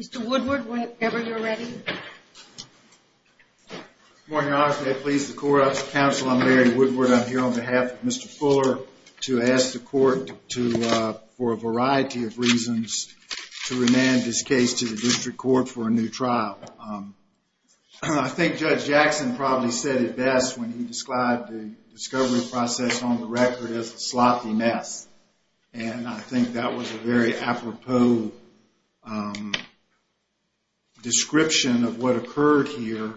Mr. Woodward, whenever you're ready. Good morning, Your Honor. May it please the court, I'm counsel Larry Woodward. I'm here on behalf of Mr. Fuller to ask the court to, for a variety of reasons, to remand this case to the district court for a new trial. I think Judge Jackson probably said it best when he described the discovery process on the record as a sloppy mess and I think that was a very apropos description of what occurred here,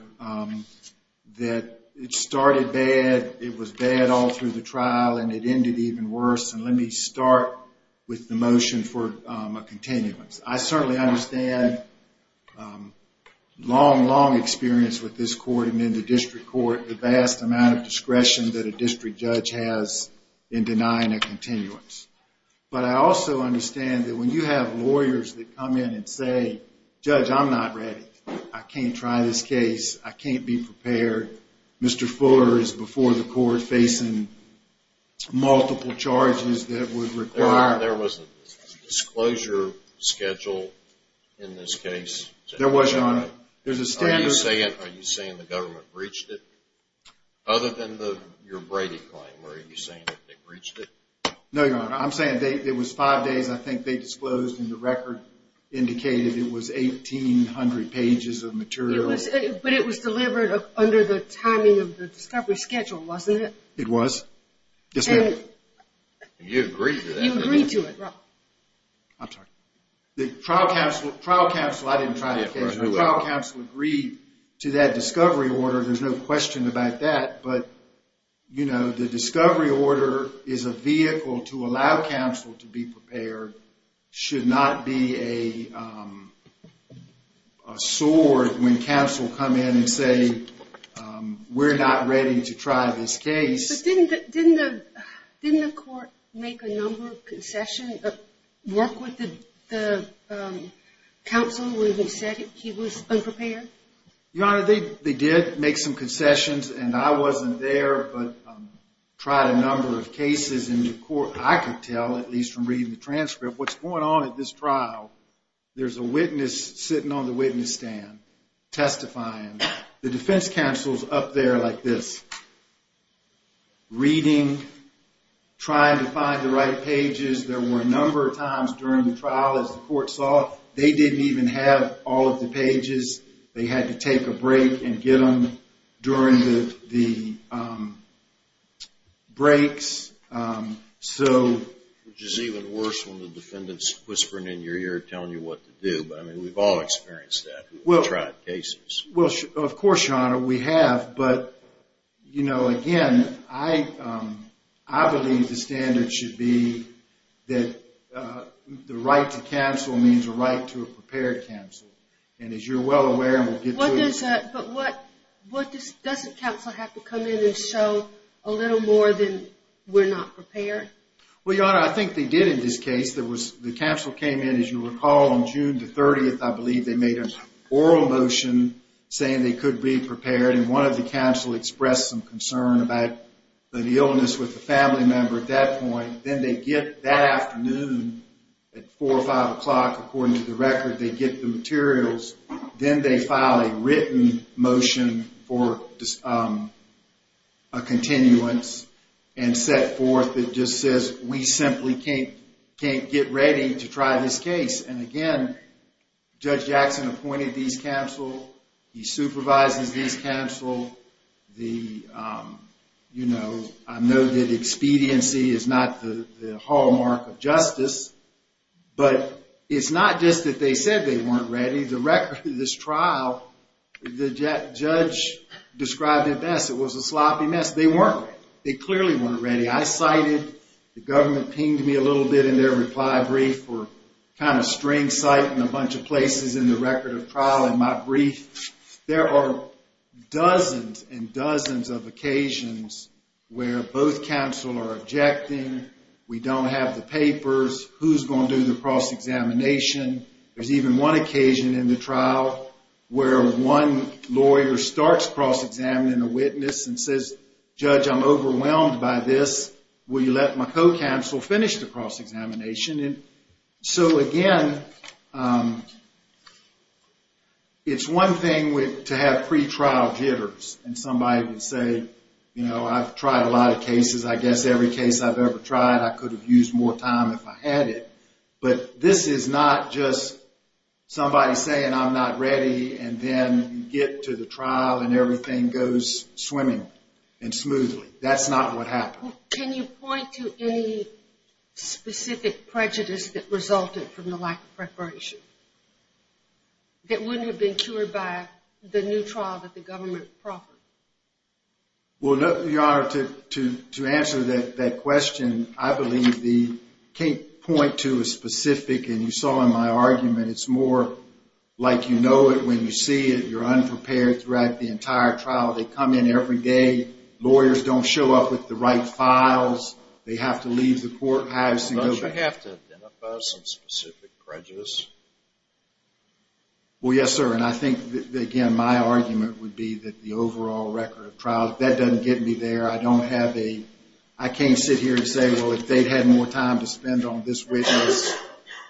that it started bad, it was bad all through the trial and it ended even worse and let me start with the motion for a continuance. I certainly understand long, long experience with this court and in the district court, the vast amount of discretion that a But I also understand that when you have lawyers that come in and say, Judge, I'm not ready. I can't try this case. I can't be prepared. Mr. Fuller is before the court facing multiple charges that would require. There was a disclosure schedule in this case. There was, Your Honor. There's a standard. Are you saying the government breached it? Other than your Brady claim, were you saying that they breached it? No, Your Honor. I'm saying there was five days I think they disclosed and the record indicated it was 1,800 pages of material. But it was delivered under the timing of the discovery schedule, wasn't it? It was. Yes, ma'am. You agree to that? You agree to it, Rob. I'm sorry. The trial counsel, trial counsel, I didn't try the case. The trial counsel agreed to that discovery order. There's no question about that but, you know, the discovery order is a vehicle to allow counsel to be prepared. It should not be a sword when counsel come in and say, we're not ready to try this case. But didn't the court make a number of concessions, work with the counsel when he said he was unprepared? Your Honor, they did make some I could tell at least from reading the transcript what's going on at this trial. There's a witness sitting on the witness stand testifying. The defense counsel's up there like this, reading, trying to find the right pages. There were a number of times during the trial, as the court saw, they didn't even have all of the pages. They had to take a break and get them during the breaks. Which is even worse when the defendant's whispering in your ear, telling you what to do. But I mean, we've all experienced that in trial cases. Well, of course, Your Honor, we have. But, you know, again, I believe the standard should be that the right to counsel means a right to a prepared counsel. And as you're well aware, we'll get to it. But what doesn't counsel have to come in and show a little more than we're not prepared? Well, Your Honor, I think they did in this case. The counsel came in, as you recall, on June the 30th, I believe they made an oral motion saying they could be prepared. And one of the counsel expressed some concern about the illness with the family member at that point. Then they get that afternoon at four or five Then they file a written motion for a continuance and set forth that just says we simply can't get ready to try this case. And again, Judge Jackson appointed these counsel. He supervises these counsel. I know that expediency is not the hallmark of justice. But it's not just that they said they weren't ready for this trial. The judge described it best. It was a sloppy mess. They weren't ready. They clearly weren't ready. I cited. The government pinged me a little bit in their reply brief for kind of string citing a bunch of places in the record of trial in my brief. There are dozens and dozens of occasions where both counsel are objecting. We don't have the papers. Who's going to do the cross-examination? There's even one occasion in the trial where one lawyer starts cross-examining a witness and says, Judge, I'm overwhelmed by this. Will you let my co-counsel finish the cross-examination? So again, it's one thing to have pre-trial jitters and somebody would say, you know, I've tried a lot of cases. I guess every case I've ever tried, I could have used more time if I had it. But this is not just somebody saying I'm not ready and then you get to the trial and everything goes swimming and smoothly. That's not what happened. Can you point to any specific prejudice that resulted from the lack of preparation that wouldn't have been cured by the new trial that the government proffered? Well, Your Honor, to answer that question, I believe the point to a specific, and you saw in my argument, it's more like you know it when you see it. You're unprepared throughout the entire trial. They come in every day. Lawyers don't show up with the right files. They have to leave the courthouse. Don't you have to identify some specific prejudice? Well, yes, sir. And I think, again, my argument would be that the overall record of trial, that doesn't get me there. I don't have a, I can't sit here and say, well, if they'd had more time to spend on this witness,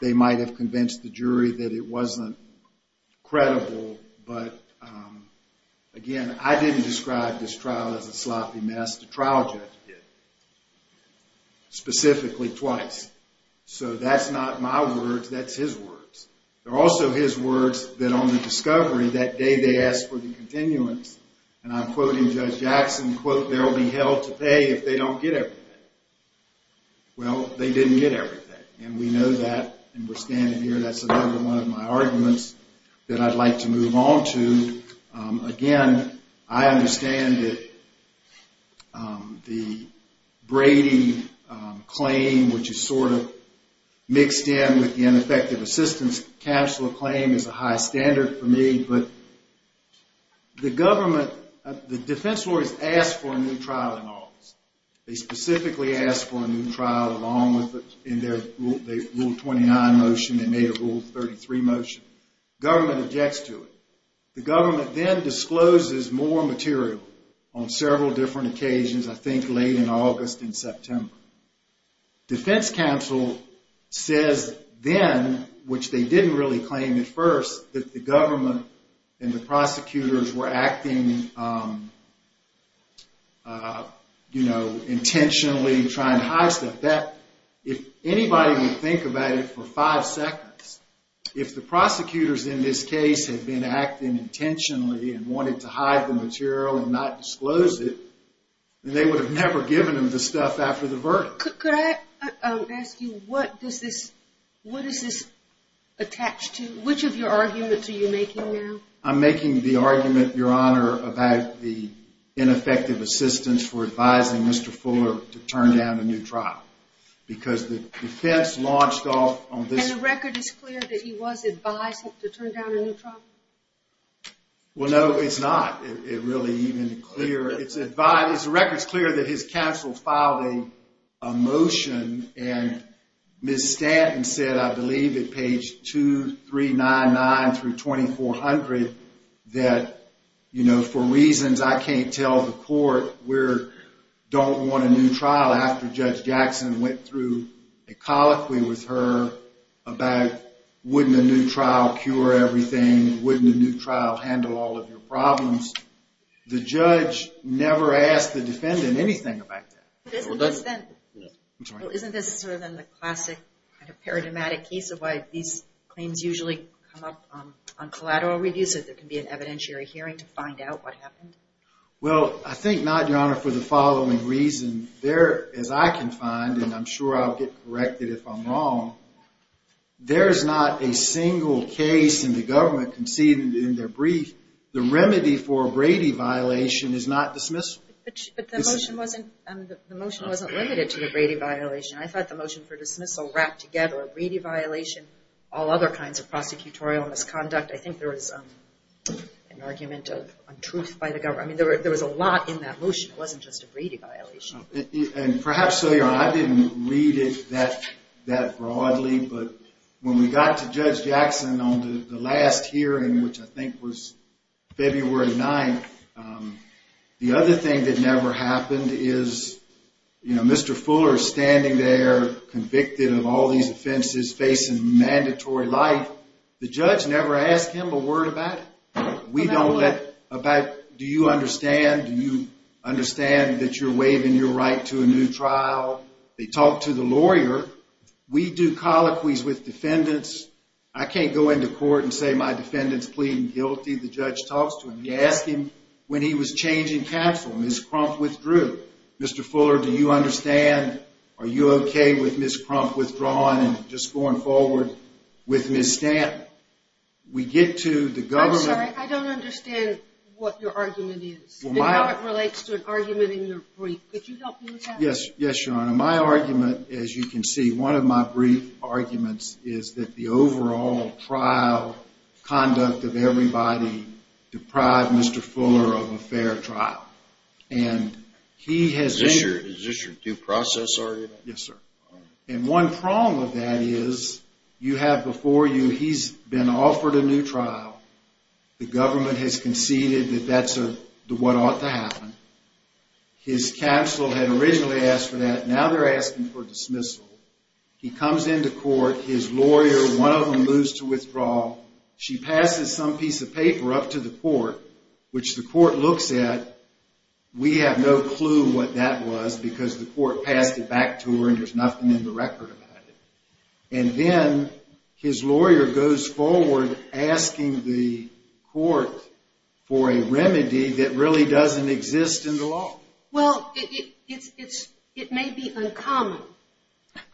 they might have convinced the jury that it wasn't credible. But again, I didn't describe this trial as a sloppy mess. The trial judge did, specifically twice. So that's not my words. That's his words. They're also his words that on the discovery that day, they asked for the continuance. And I'm quoting Judge Jackson, quote, there'll be hell to pay if they don't get everything. Well, they didn't get everything. And we know that, and we're standing here. That's another one of my arguments that I'd like to move on to. Again, I understand that the Brady claim, which is sort of mixed in with the ineffective assistance counselor claim is a high standard for me. But the government, the defense lawyers asked for a new trial in August. They specifically asked for a new trial, in their Rule 29 motion. They made a Rule 33 motion. Government objects to it. The government then discloses more material on several different occasions, I think late in August and September. Defense counsel says then, which they didn't really claim at first, that the government and the prosecutors were acting, you know, intentionally trying to hide stuff. If anybody would think about it for five seconds, if the prosecutors in this case had been acting intentionally and wanted to hide the material and not disclose it, then they would have never given them the stuff after the verdict. Could I ask you, what does this attach to? Which of your arguments are you making now? I'm making the argument, Your Honor, about the ineffective assistance for advising Mr. Fuller to turn down a new trial, because the defense launched off on this. And the record is clear that he was advising to turn down a new trial? Well, no, it's not really even clear. It's a record. It's clear that his counsel filed a motion, and Ms. Stanton said, I believe, at page 2399 through 2400, that, you know, for reasons I can't tell the court, we don't want a new trial after Judge Jackson went through a colloquy with her about, wouldn't a new trial cure everything? Wouldn't a new trial handle all of your problems? The judge never asked the defendant anything about that. Isn't this sort of in the classic paradigmatic case of why these claims usually come up on collateral review, so there can be an evidentiary hearing to find out what happened? Well, I think not, Your Honor, for the following reason. There, as I can find, and I'm sure I'll correct it if I'm wrong, there's not a single case in the government conceded in their brief, the remedy for a Brady violation is not dismissal. But the motion wasn't limited to the Brady violation. I thought the motion for dismissal wrapped together a Brady violation, all other kinds of prosecutorial misconduct. I think there was an argument of untruth by the government. I mean, there was a lot in that motion. It wasn't just a Brady violation. And perhaps, so Your Honor, I didn't read it that broadly, but when we got to Judge Jackson on the last hearing, which I think was February 9th, the other thing that never happened is, you know, Mr. Fuller's standing there convicted of all these offenses facing mandatory life. The judge never asked him a word about it. We don't let, about, do you understand? Do you understand that you're right to a new trial? They talk to the lawyer. We do colloquies with defendants. I can't go into court and say my defendant's pleading guilty. The judge talks to him. He asked him when he was changing counsel. Ms. Crump withdrew. Mr. Fuller, do you understand? Are you okay with Ms. Crump withdrawing and just going forward with Ms. Stanton? We get to the government. I'm sorry, I don't understand what your argument is and how it relates to an argument in your brief. Could you help me with that? Yes. Yes, Your Honor. My argument, as you can see, one of my brief arguments is that the overall trial conduct of everybody deprived Mr. Fuller of a fair trial. And he has... Is this your due process argument? Yes, sir. And one prong of that is, you have before you, he's been offered a new trial. He's conceded that that's what ought to happen. His counsel had originally asked for that. Now they're asking for dismissal. He comes into court. His lawyer, one of them, moves to withdraw. She passes some piece of paper up to the court, which the court looks at. We have no clue what that was because the court passed it back to her and there's nothing in the record about it. And then his lawyer goes forward asking the court for a remedy that really doesn't exist in the law. Well, it may be uncommon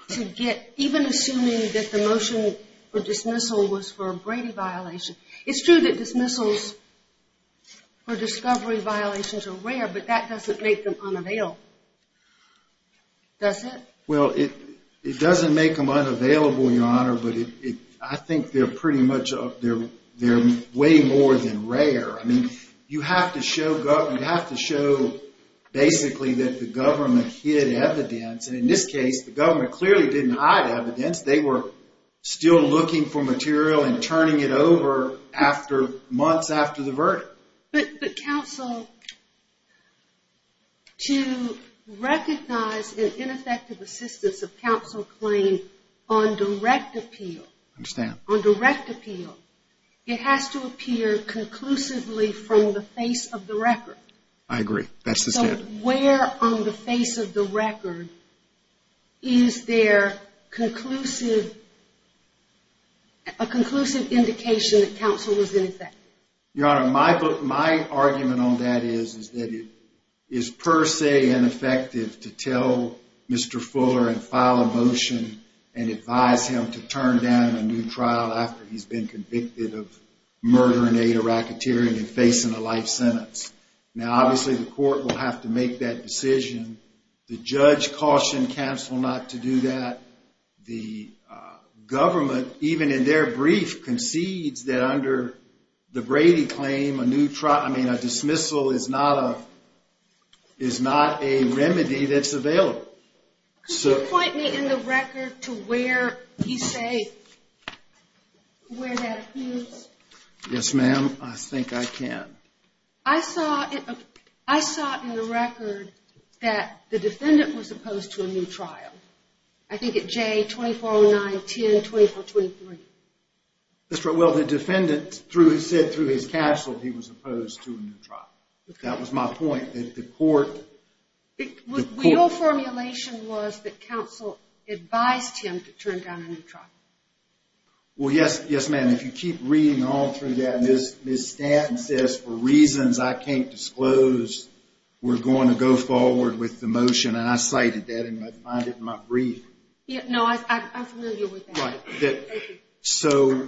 to get, even assuming that the motion for dismissal was for a Brady violation. It's true that dismissals for discovery violations are rare, but that doesn't make them unavailable, Your Honor. But I think they're pretty much up there. They're way more than rare. I mean, you have to show basically that the government hid evidence. And in this case, the government clearly didn't hide evidence. They were still looking for material and turning it over after months after the verdict. But counsel, to recognize an ineffective assistance of counsel claim on direct appeal, it has to appear conclusively from the face of the record. I agree. That's the standard. Where on the face of the record is there a conclusive indication that counsel was ineffective? Your Honor, my argument on that is that it is per se ineffective to tell Mr. Fuller and file a motion and advise him to turn down a new trial after he's been convicted of murder and aid of racketeering and facing a life sentence. Now, obviously, the court will have to make that decision. The judge cautioned counsel not to do that. The government, even in their brief, concedes that under the Brady claim, a dismissal is not a remedy that's available. Could you point me in the record to where you say where that appears? Yes, ma'am. I think I can. I saw in the record that the defendant was opposed to a new trial. I think it's J-2409-10-2423. Well, the defendant said through his capsule he was opposed to a new trial. That was my point. Your formulation was that counsel advised him to turn down a new trial. Well, yes, ma'am. If you keep reading all through that, Ms. Stanton says, for reasons I can't disclose, we're going to go forward with the motion, and I cited that in my brief. No, I'm familiar with that. Thank you. So,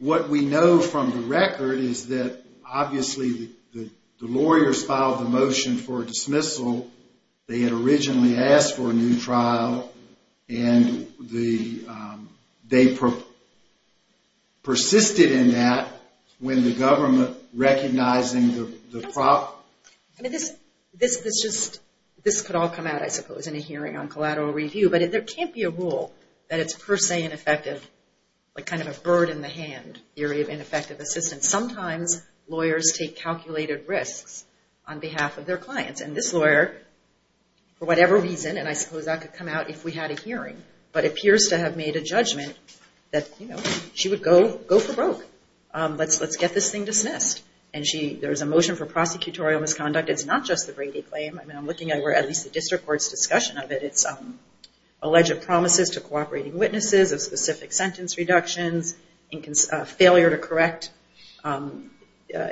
what we know from the record is that, obviously, the lawyers filed the motion for a dismissal. They had originally asked for a new trial, and they persisted in that when the government recognizing the problem. This could all come out, I suppose, in a hearing on collateral review, but there can't be a rule that it's per se ineffective, like kind of a bird in the hand theory of ineffective assistance. Sometimes lawyers take calculated risks on behalf of their clients, and this lawyer, for whatever reason, and I suppose that could come out if we had a hearing, but appears to have made a judgment that, you know, she would go for broke. Let's get this thing dismissed, and there's a motion for prosecutorial misconduct. It's not just the Brady claim. I mean, I'm looking at where at least the district court's discussion of it. It's alleged promises to cooperating witnesses of specific sentence reductions, failure to correct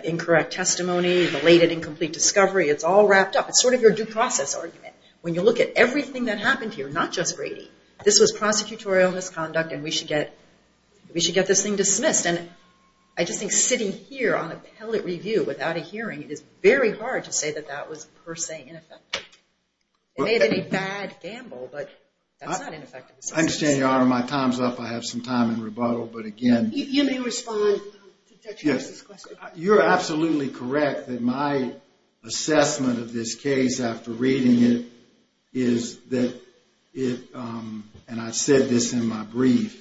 incorrect testimony, belated incomplete discovery. It's all wrapped up. It's sort of your due process argument. When you look at everything that happened here, not just Brady, this was prosecutorial misconduct, and we should get this thing dismissed, and I just think sitting here on appellate review without a hearing, it is very hard to say that that was per se ineffective. It may have been a bad gamble, but that's not ineffective assistance. I understand, Your Honor. My time's up. I have some time in rebuttal, but again... You may respond to Judge Harris's question. You're absolutely correct that my assessment of this case after reading it is that it, and I said this in my brief,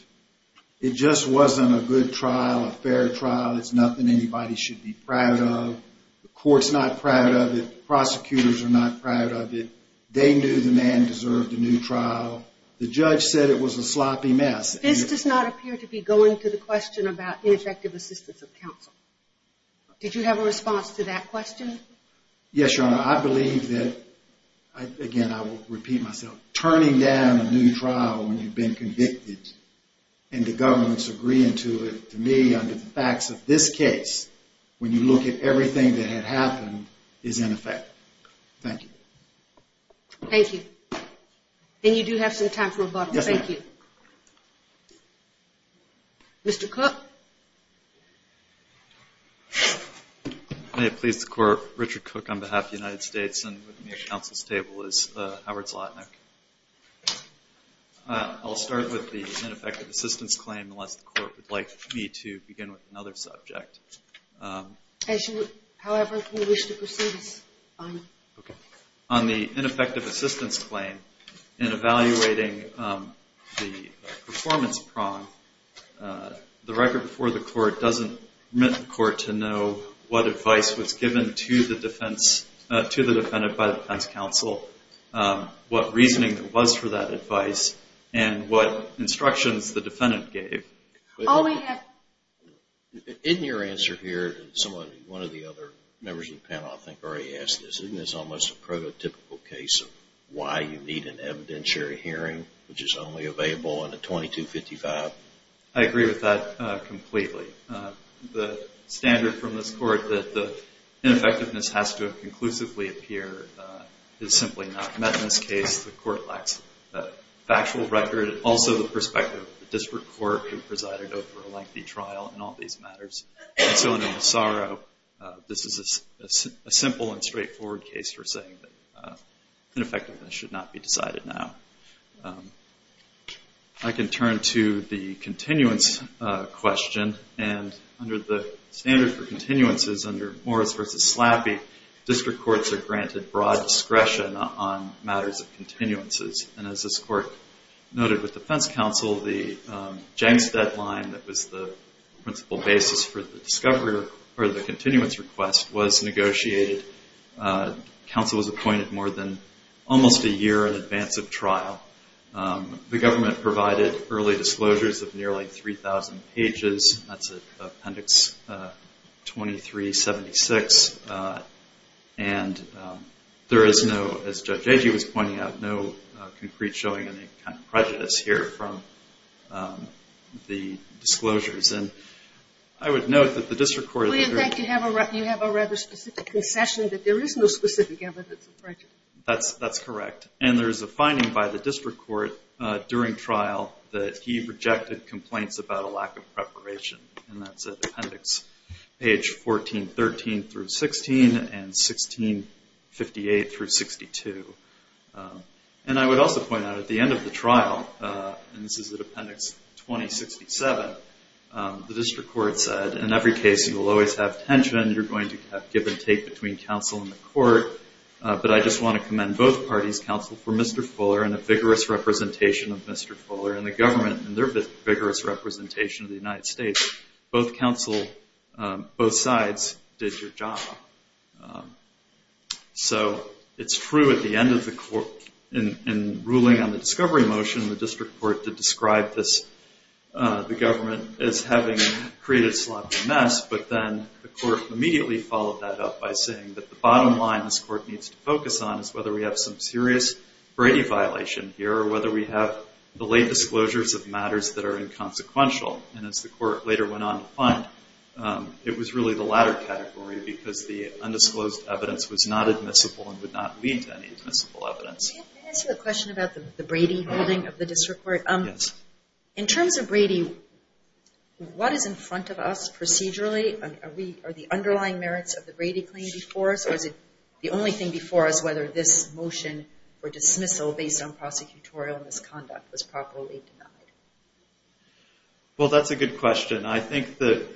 it just wasn't a good trial, a fair trial. It's nothing anybody should be proud of. The court's not proud of it. Prosecutors are not proud of it. They knew the man deserved a new trial. The judge said it was a sloppy mess. This does not appear to be going to the question about ineffective assistance of counsel. Did you have a response to that question? Yes, Your Honor. I believe that, again, I will repeat myself, turning down a new trial when you've been convicted, and the governments agreeing to it, to me, under the facts of this case, when you look at everything that had happened, is ineffective. Thank you. Thank you. And you do have some time for rebuttal. Thank you. Mr. Cook? May it please the Court, Richard Cook on behalf of the United States, and with me at counsel's table is Howard Zlotnick. I'll start with the ineffective assistance claim, unless the Court would like me to begin with another subject. As you would, however, wish to proceed, Your Honor. Okay. On the ineffective assistance claim, in evaluating the performance prong, the record before the Court doesn't permit the Court to know what advice was given to the defendant by the defense counsel, what reasoning was for that advice, and what instructions the defendant gave. All I have... In your answer here, someone, one of the other members of the panel, I think, already asked this, isn't this almost a prototypical case of why you need an evidentiary hearing, which is only available in a 2255? I agree with that completely. The standard from this Court, that the ineffectiveness has to conclusively appear, is simply not met in this case. The Court lacks a factual record, and also the perspective of the District Court, who presided over a lengthy trial in all these matters. And so, under Massaro, this is a simple and straightforward case for saying that ineffectiveness should not be decided now. I can turn to the continuance question. And under the standard for continuances, under Morris v. Slappy, District Courts are granted broad discretion on matters of continuances. And as this Court noted with Defense Counsel, the Jenks deadline that was the principal basis for the discovery, or the continuance request, was negotiated. Counsel was appointed more than almost a year in advance of trial. The government provided early disclosures of nearly 3,000 pages. That's Appendix 2376. And there is no, as Judge Agee was pointing out, no concrete showing of any kind of prejudice here from the disclosures. And I would note that the District Court Do you think you have a rather specific concession that there is no specific evidence of prejudice? That's correct. And there is a finding by the District Court during trial that he rejected complaints about a lack of preparation. And that's at Appendix page 1413 through 16 and 1658 through 62. And I would also point out at the end of the trial, and this is at Appendix 2067, the District Court said, in every case, you will always have tension. You're going to have give and take between counsel and the court. But I just want to commend both parties, counsel for Mr. Fuller and a vigorous representation of Mr. Fuller and the government and their vigorous representation of the United States. Both counsel, both sides did your job. So it's true at the end of the court, in ruling on the discovery motion, the District Court did describe this, the government as having created a sloppy mess. But then the court immediately followed that up by saying that the bottom line this court needs to focus on is whether we have some serious Brady violation here or whether we have the late disclosures of matters that are inconsequential. And as the court later went on to find, it was really the latter category because the undisclosed evidence was not admissible and would not lead to any admissible evidence. Can I ask you a question about the Brady ruling of the District Court? Yes. In terms of Brady, what is in front of us procedurally? Are the underlying merits of the Brady claim before us or is it the only thing before us whether this motion for dismissal based on prosecutorial misconduct was properly denied? Well, that's a good question. I think that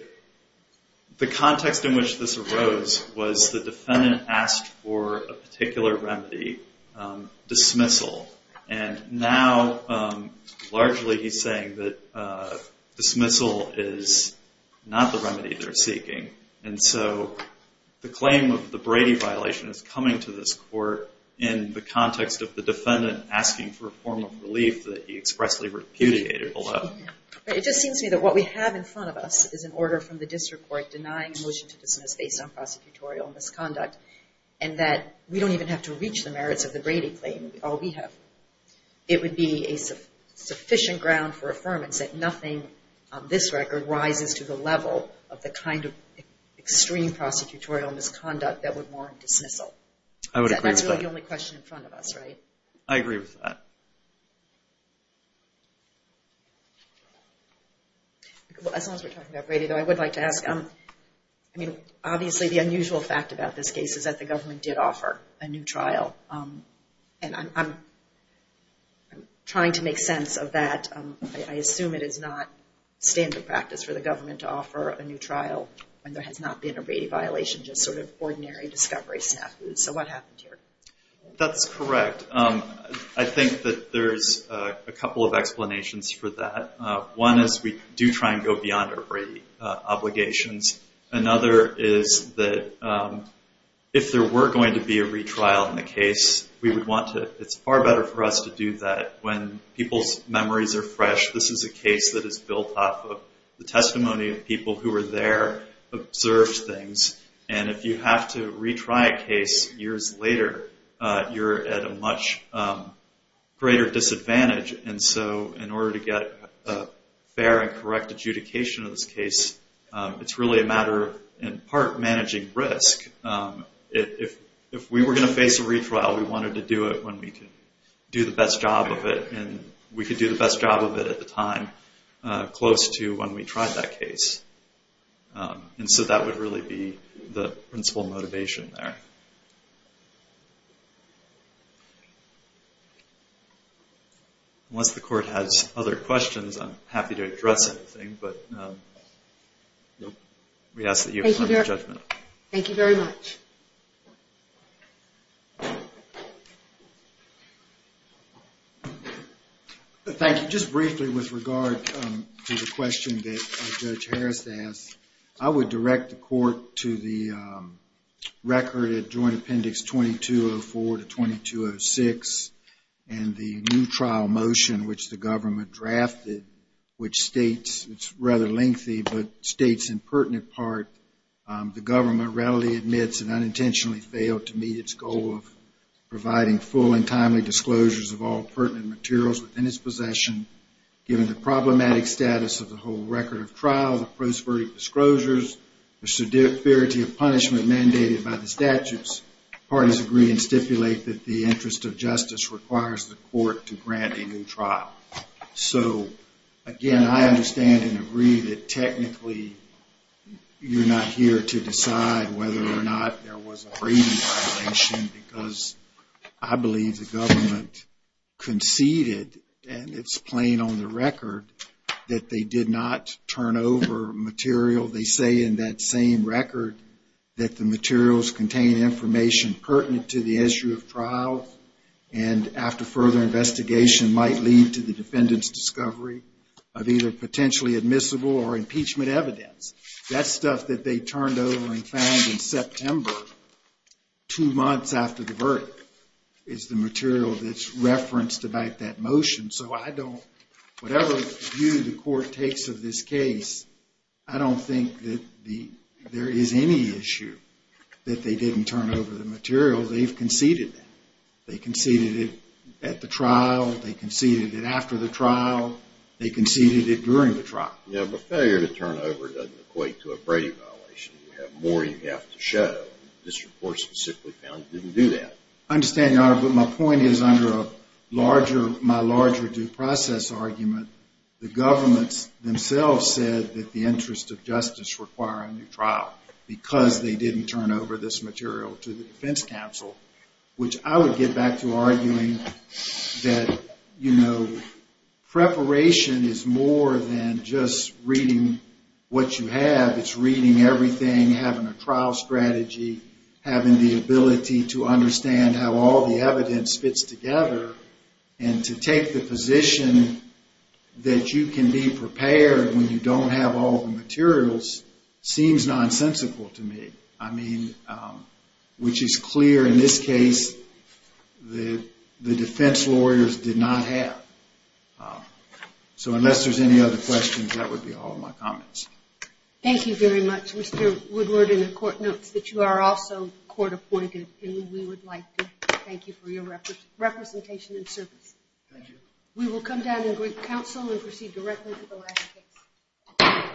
the context in which this arose was the defendant asked for a particular remedy, dismissal. And now largely he's saying that dismissal is not the remedy they're seeking. And so the claim of the Brady violation is coming to this court in the context of the defendant asking for a form of relief that he expressly repudiated below. It just seems to me that what we have in front of us is an order from the District Court denying a motion to dismiss based on prosecutorial misconduct and that we don't even have to reach the merits of the Brady claim, all we have. It would be a sufficient ground for affirmance that nothing on this record rises to the level of the kind of extreme prosecutorial misconduct that would warrant dismissal. I would agree with that. That's really the only question in front of us, right? I agree with that. Well, as long as we're talking about Brady, though, I would like to ask, I mean, obviously the unusual fact about this case is that the government did offer a new trial. And I'm trying to make sense of that. I assume it is not standard practice for the government to offer a new trial when there has not been a Brady violation, just sort of ordinary discovery snafu. So what happened here? That's correct. I think that there's a couple of explanations for that. One is we do try and go beyond our Brady obligations. Another is that if there were going to be a retrial in the case, we would want to, it's far better for us to do that when people's memories are fresh. This is a case that is built off of the testimony of people who were there, observed things. And if you have to retry a case years later, you're at a much greater disadvantage. And so in order to get a fair and correct adjudication of this case, it's really a matter of, in part, managing risk. If we were going to face a retrial, we wanted to do it when we could do the best job of it. And we could do the best job of it at the time, close to when we tried that case. And so that would really be the principal motivation there. Unless the court has other questions, I'm happy to address anything. But we ask that you affirm your judgment. Thank you very much. Thank you. Just briefly with regard to the question that Judge Harris asked, I would direct the court to the record at Joint Appendix 2204 to 2206 and the new trial motion which the government drafted, which states, it's rather lengthy, but states in pertinent part, the government readily admits it unintentionally failed to meet its goal of providing full and timely disclosures of all pertinent materials within its possession, given the problematic status of the whole record of trial, the prosperity of disclosures, the severity of punishment mandated by the statutes. Parties agree and stipulate that the interest of justice requires the court to grant a new trial. So again, I understand and agree that technically you're not here to decide whether or not there was a Brady violation because I believe the government conceded, and it's plain on the record, that they did not turn over material. They say in that same record that the materials contain information pertinent to the issue of trial and after further investigation might lead to the defendant's discovery of either potentially admissible or impeachment evidence. That stuff that they turned over and found in September, two months after the verdict, is the material that's referenced about that motion. So I don't, whatever view the court takes of this case, I don't think that there is any issue that they didn't turn over the material. They've conceded it. They conceded it at the trial. They conceded it after the trial. They conceded it during the trial. Yeah, but failure to turn over doesn't equate to a Brady violation. You have more you have to show. This report specifically found it didn't do that. I understand, Your Honor, but my point is under a larger, my larger due process argument, the governments themselves said that the interest of justice required a new trial because they didn't turn over this material to the defense counsel, which I would get back to arguing that, you know, preparation is more than just reading what you have. It's reading everything, having a trial strategy, having the ability to understand how all the evidence fits together, and to take the position that you can be prepared when you don't have all the materials seems nonsensical to me. I mean, which is clear in this case, the defense lawyers did not have. So unless there's any other questions, that would be all my comments. Thank you very much, Mr. Woodward. And the court notes that you are also court appointed, and we would like to thank you for your representation and service. Thank you. We will come down and greet counsel and proceed directly to the last case.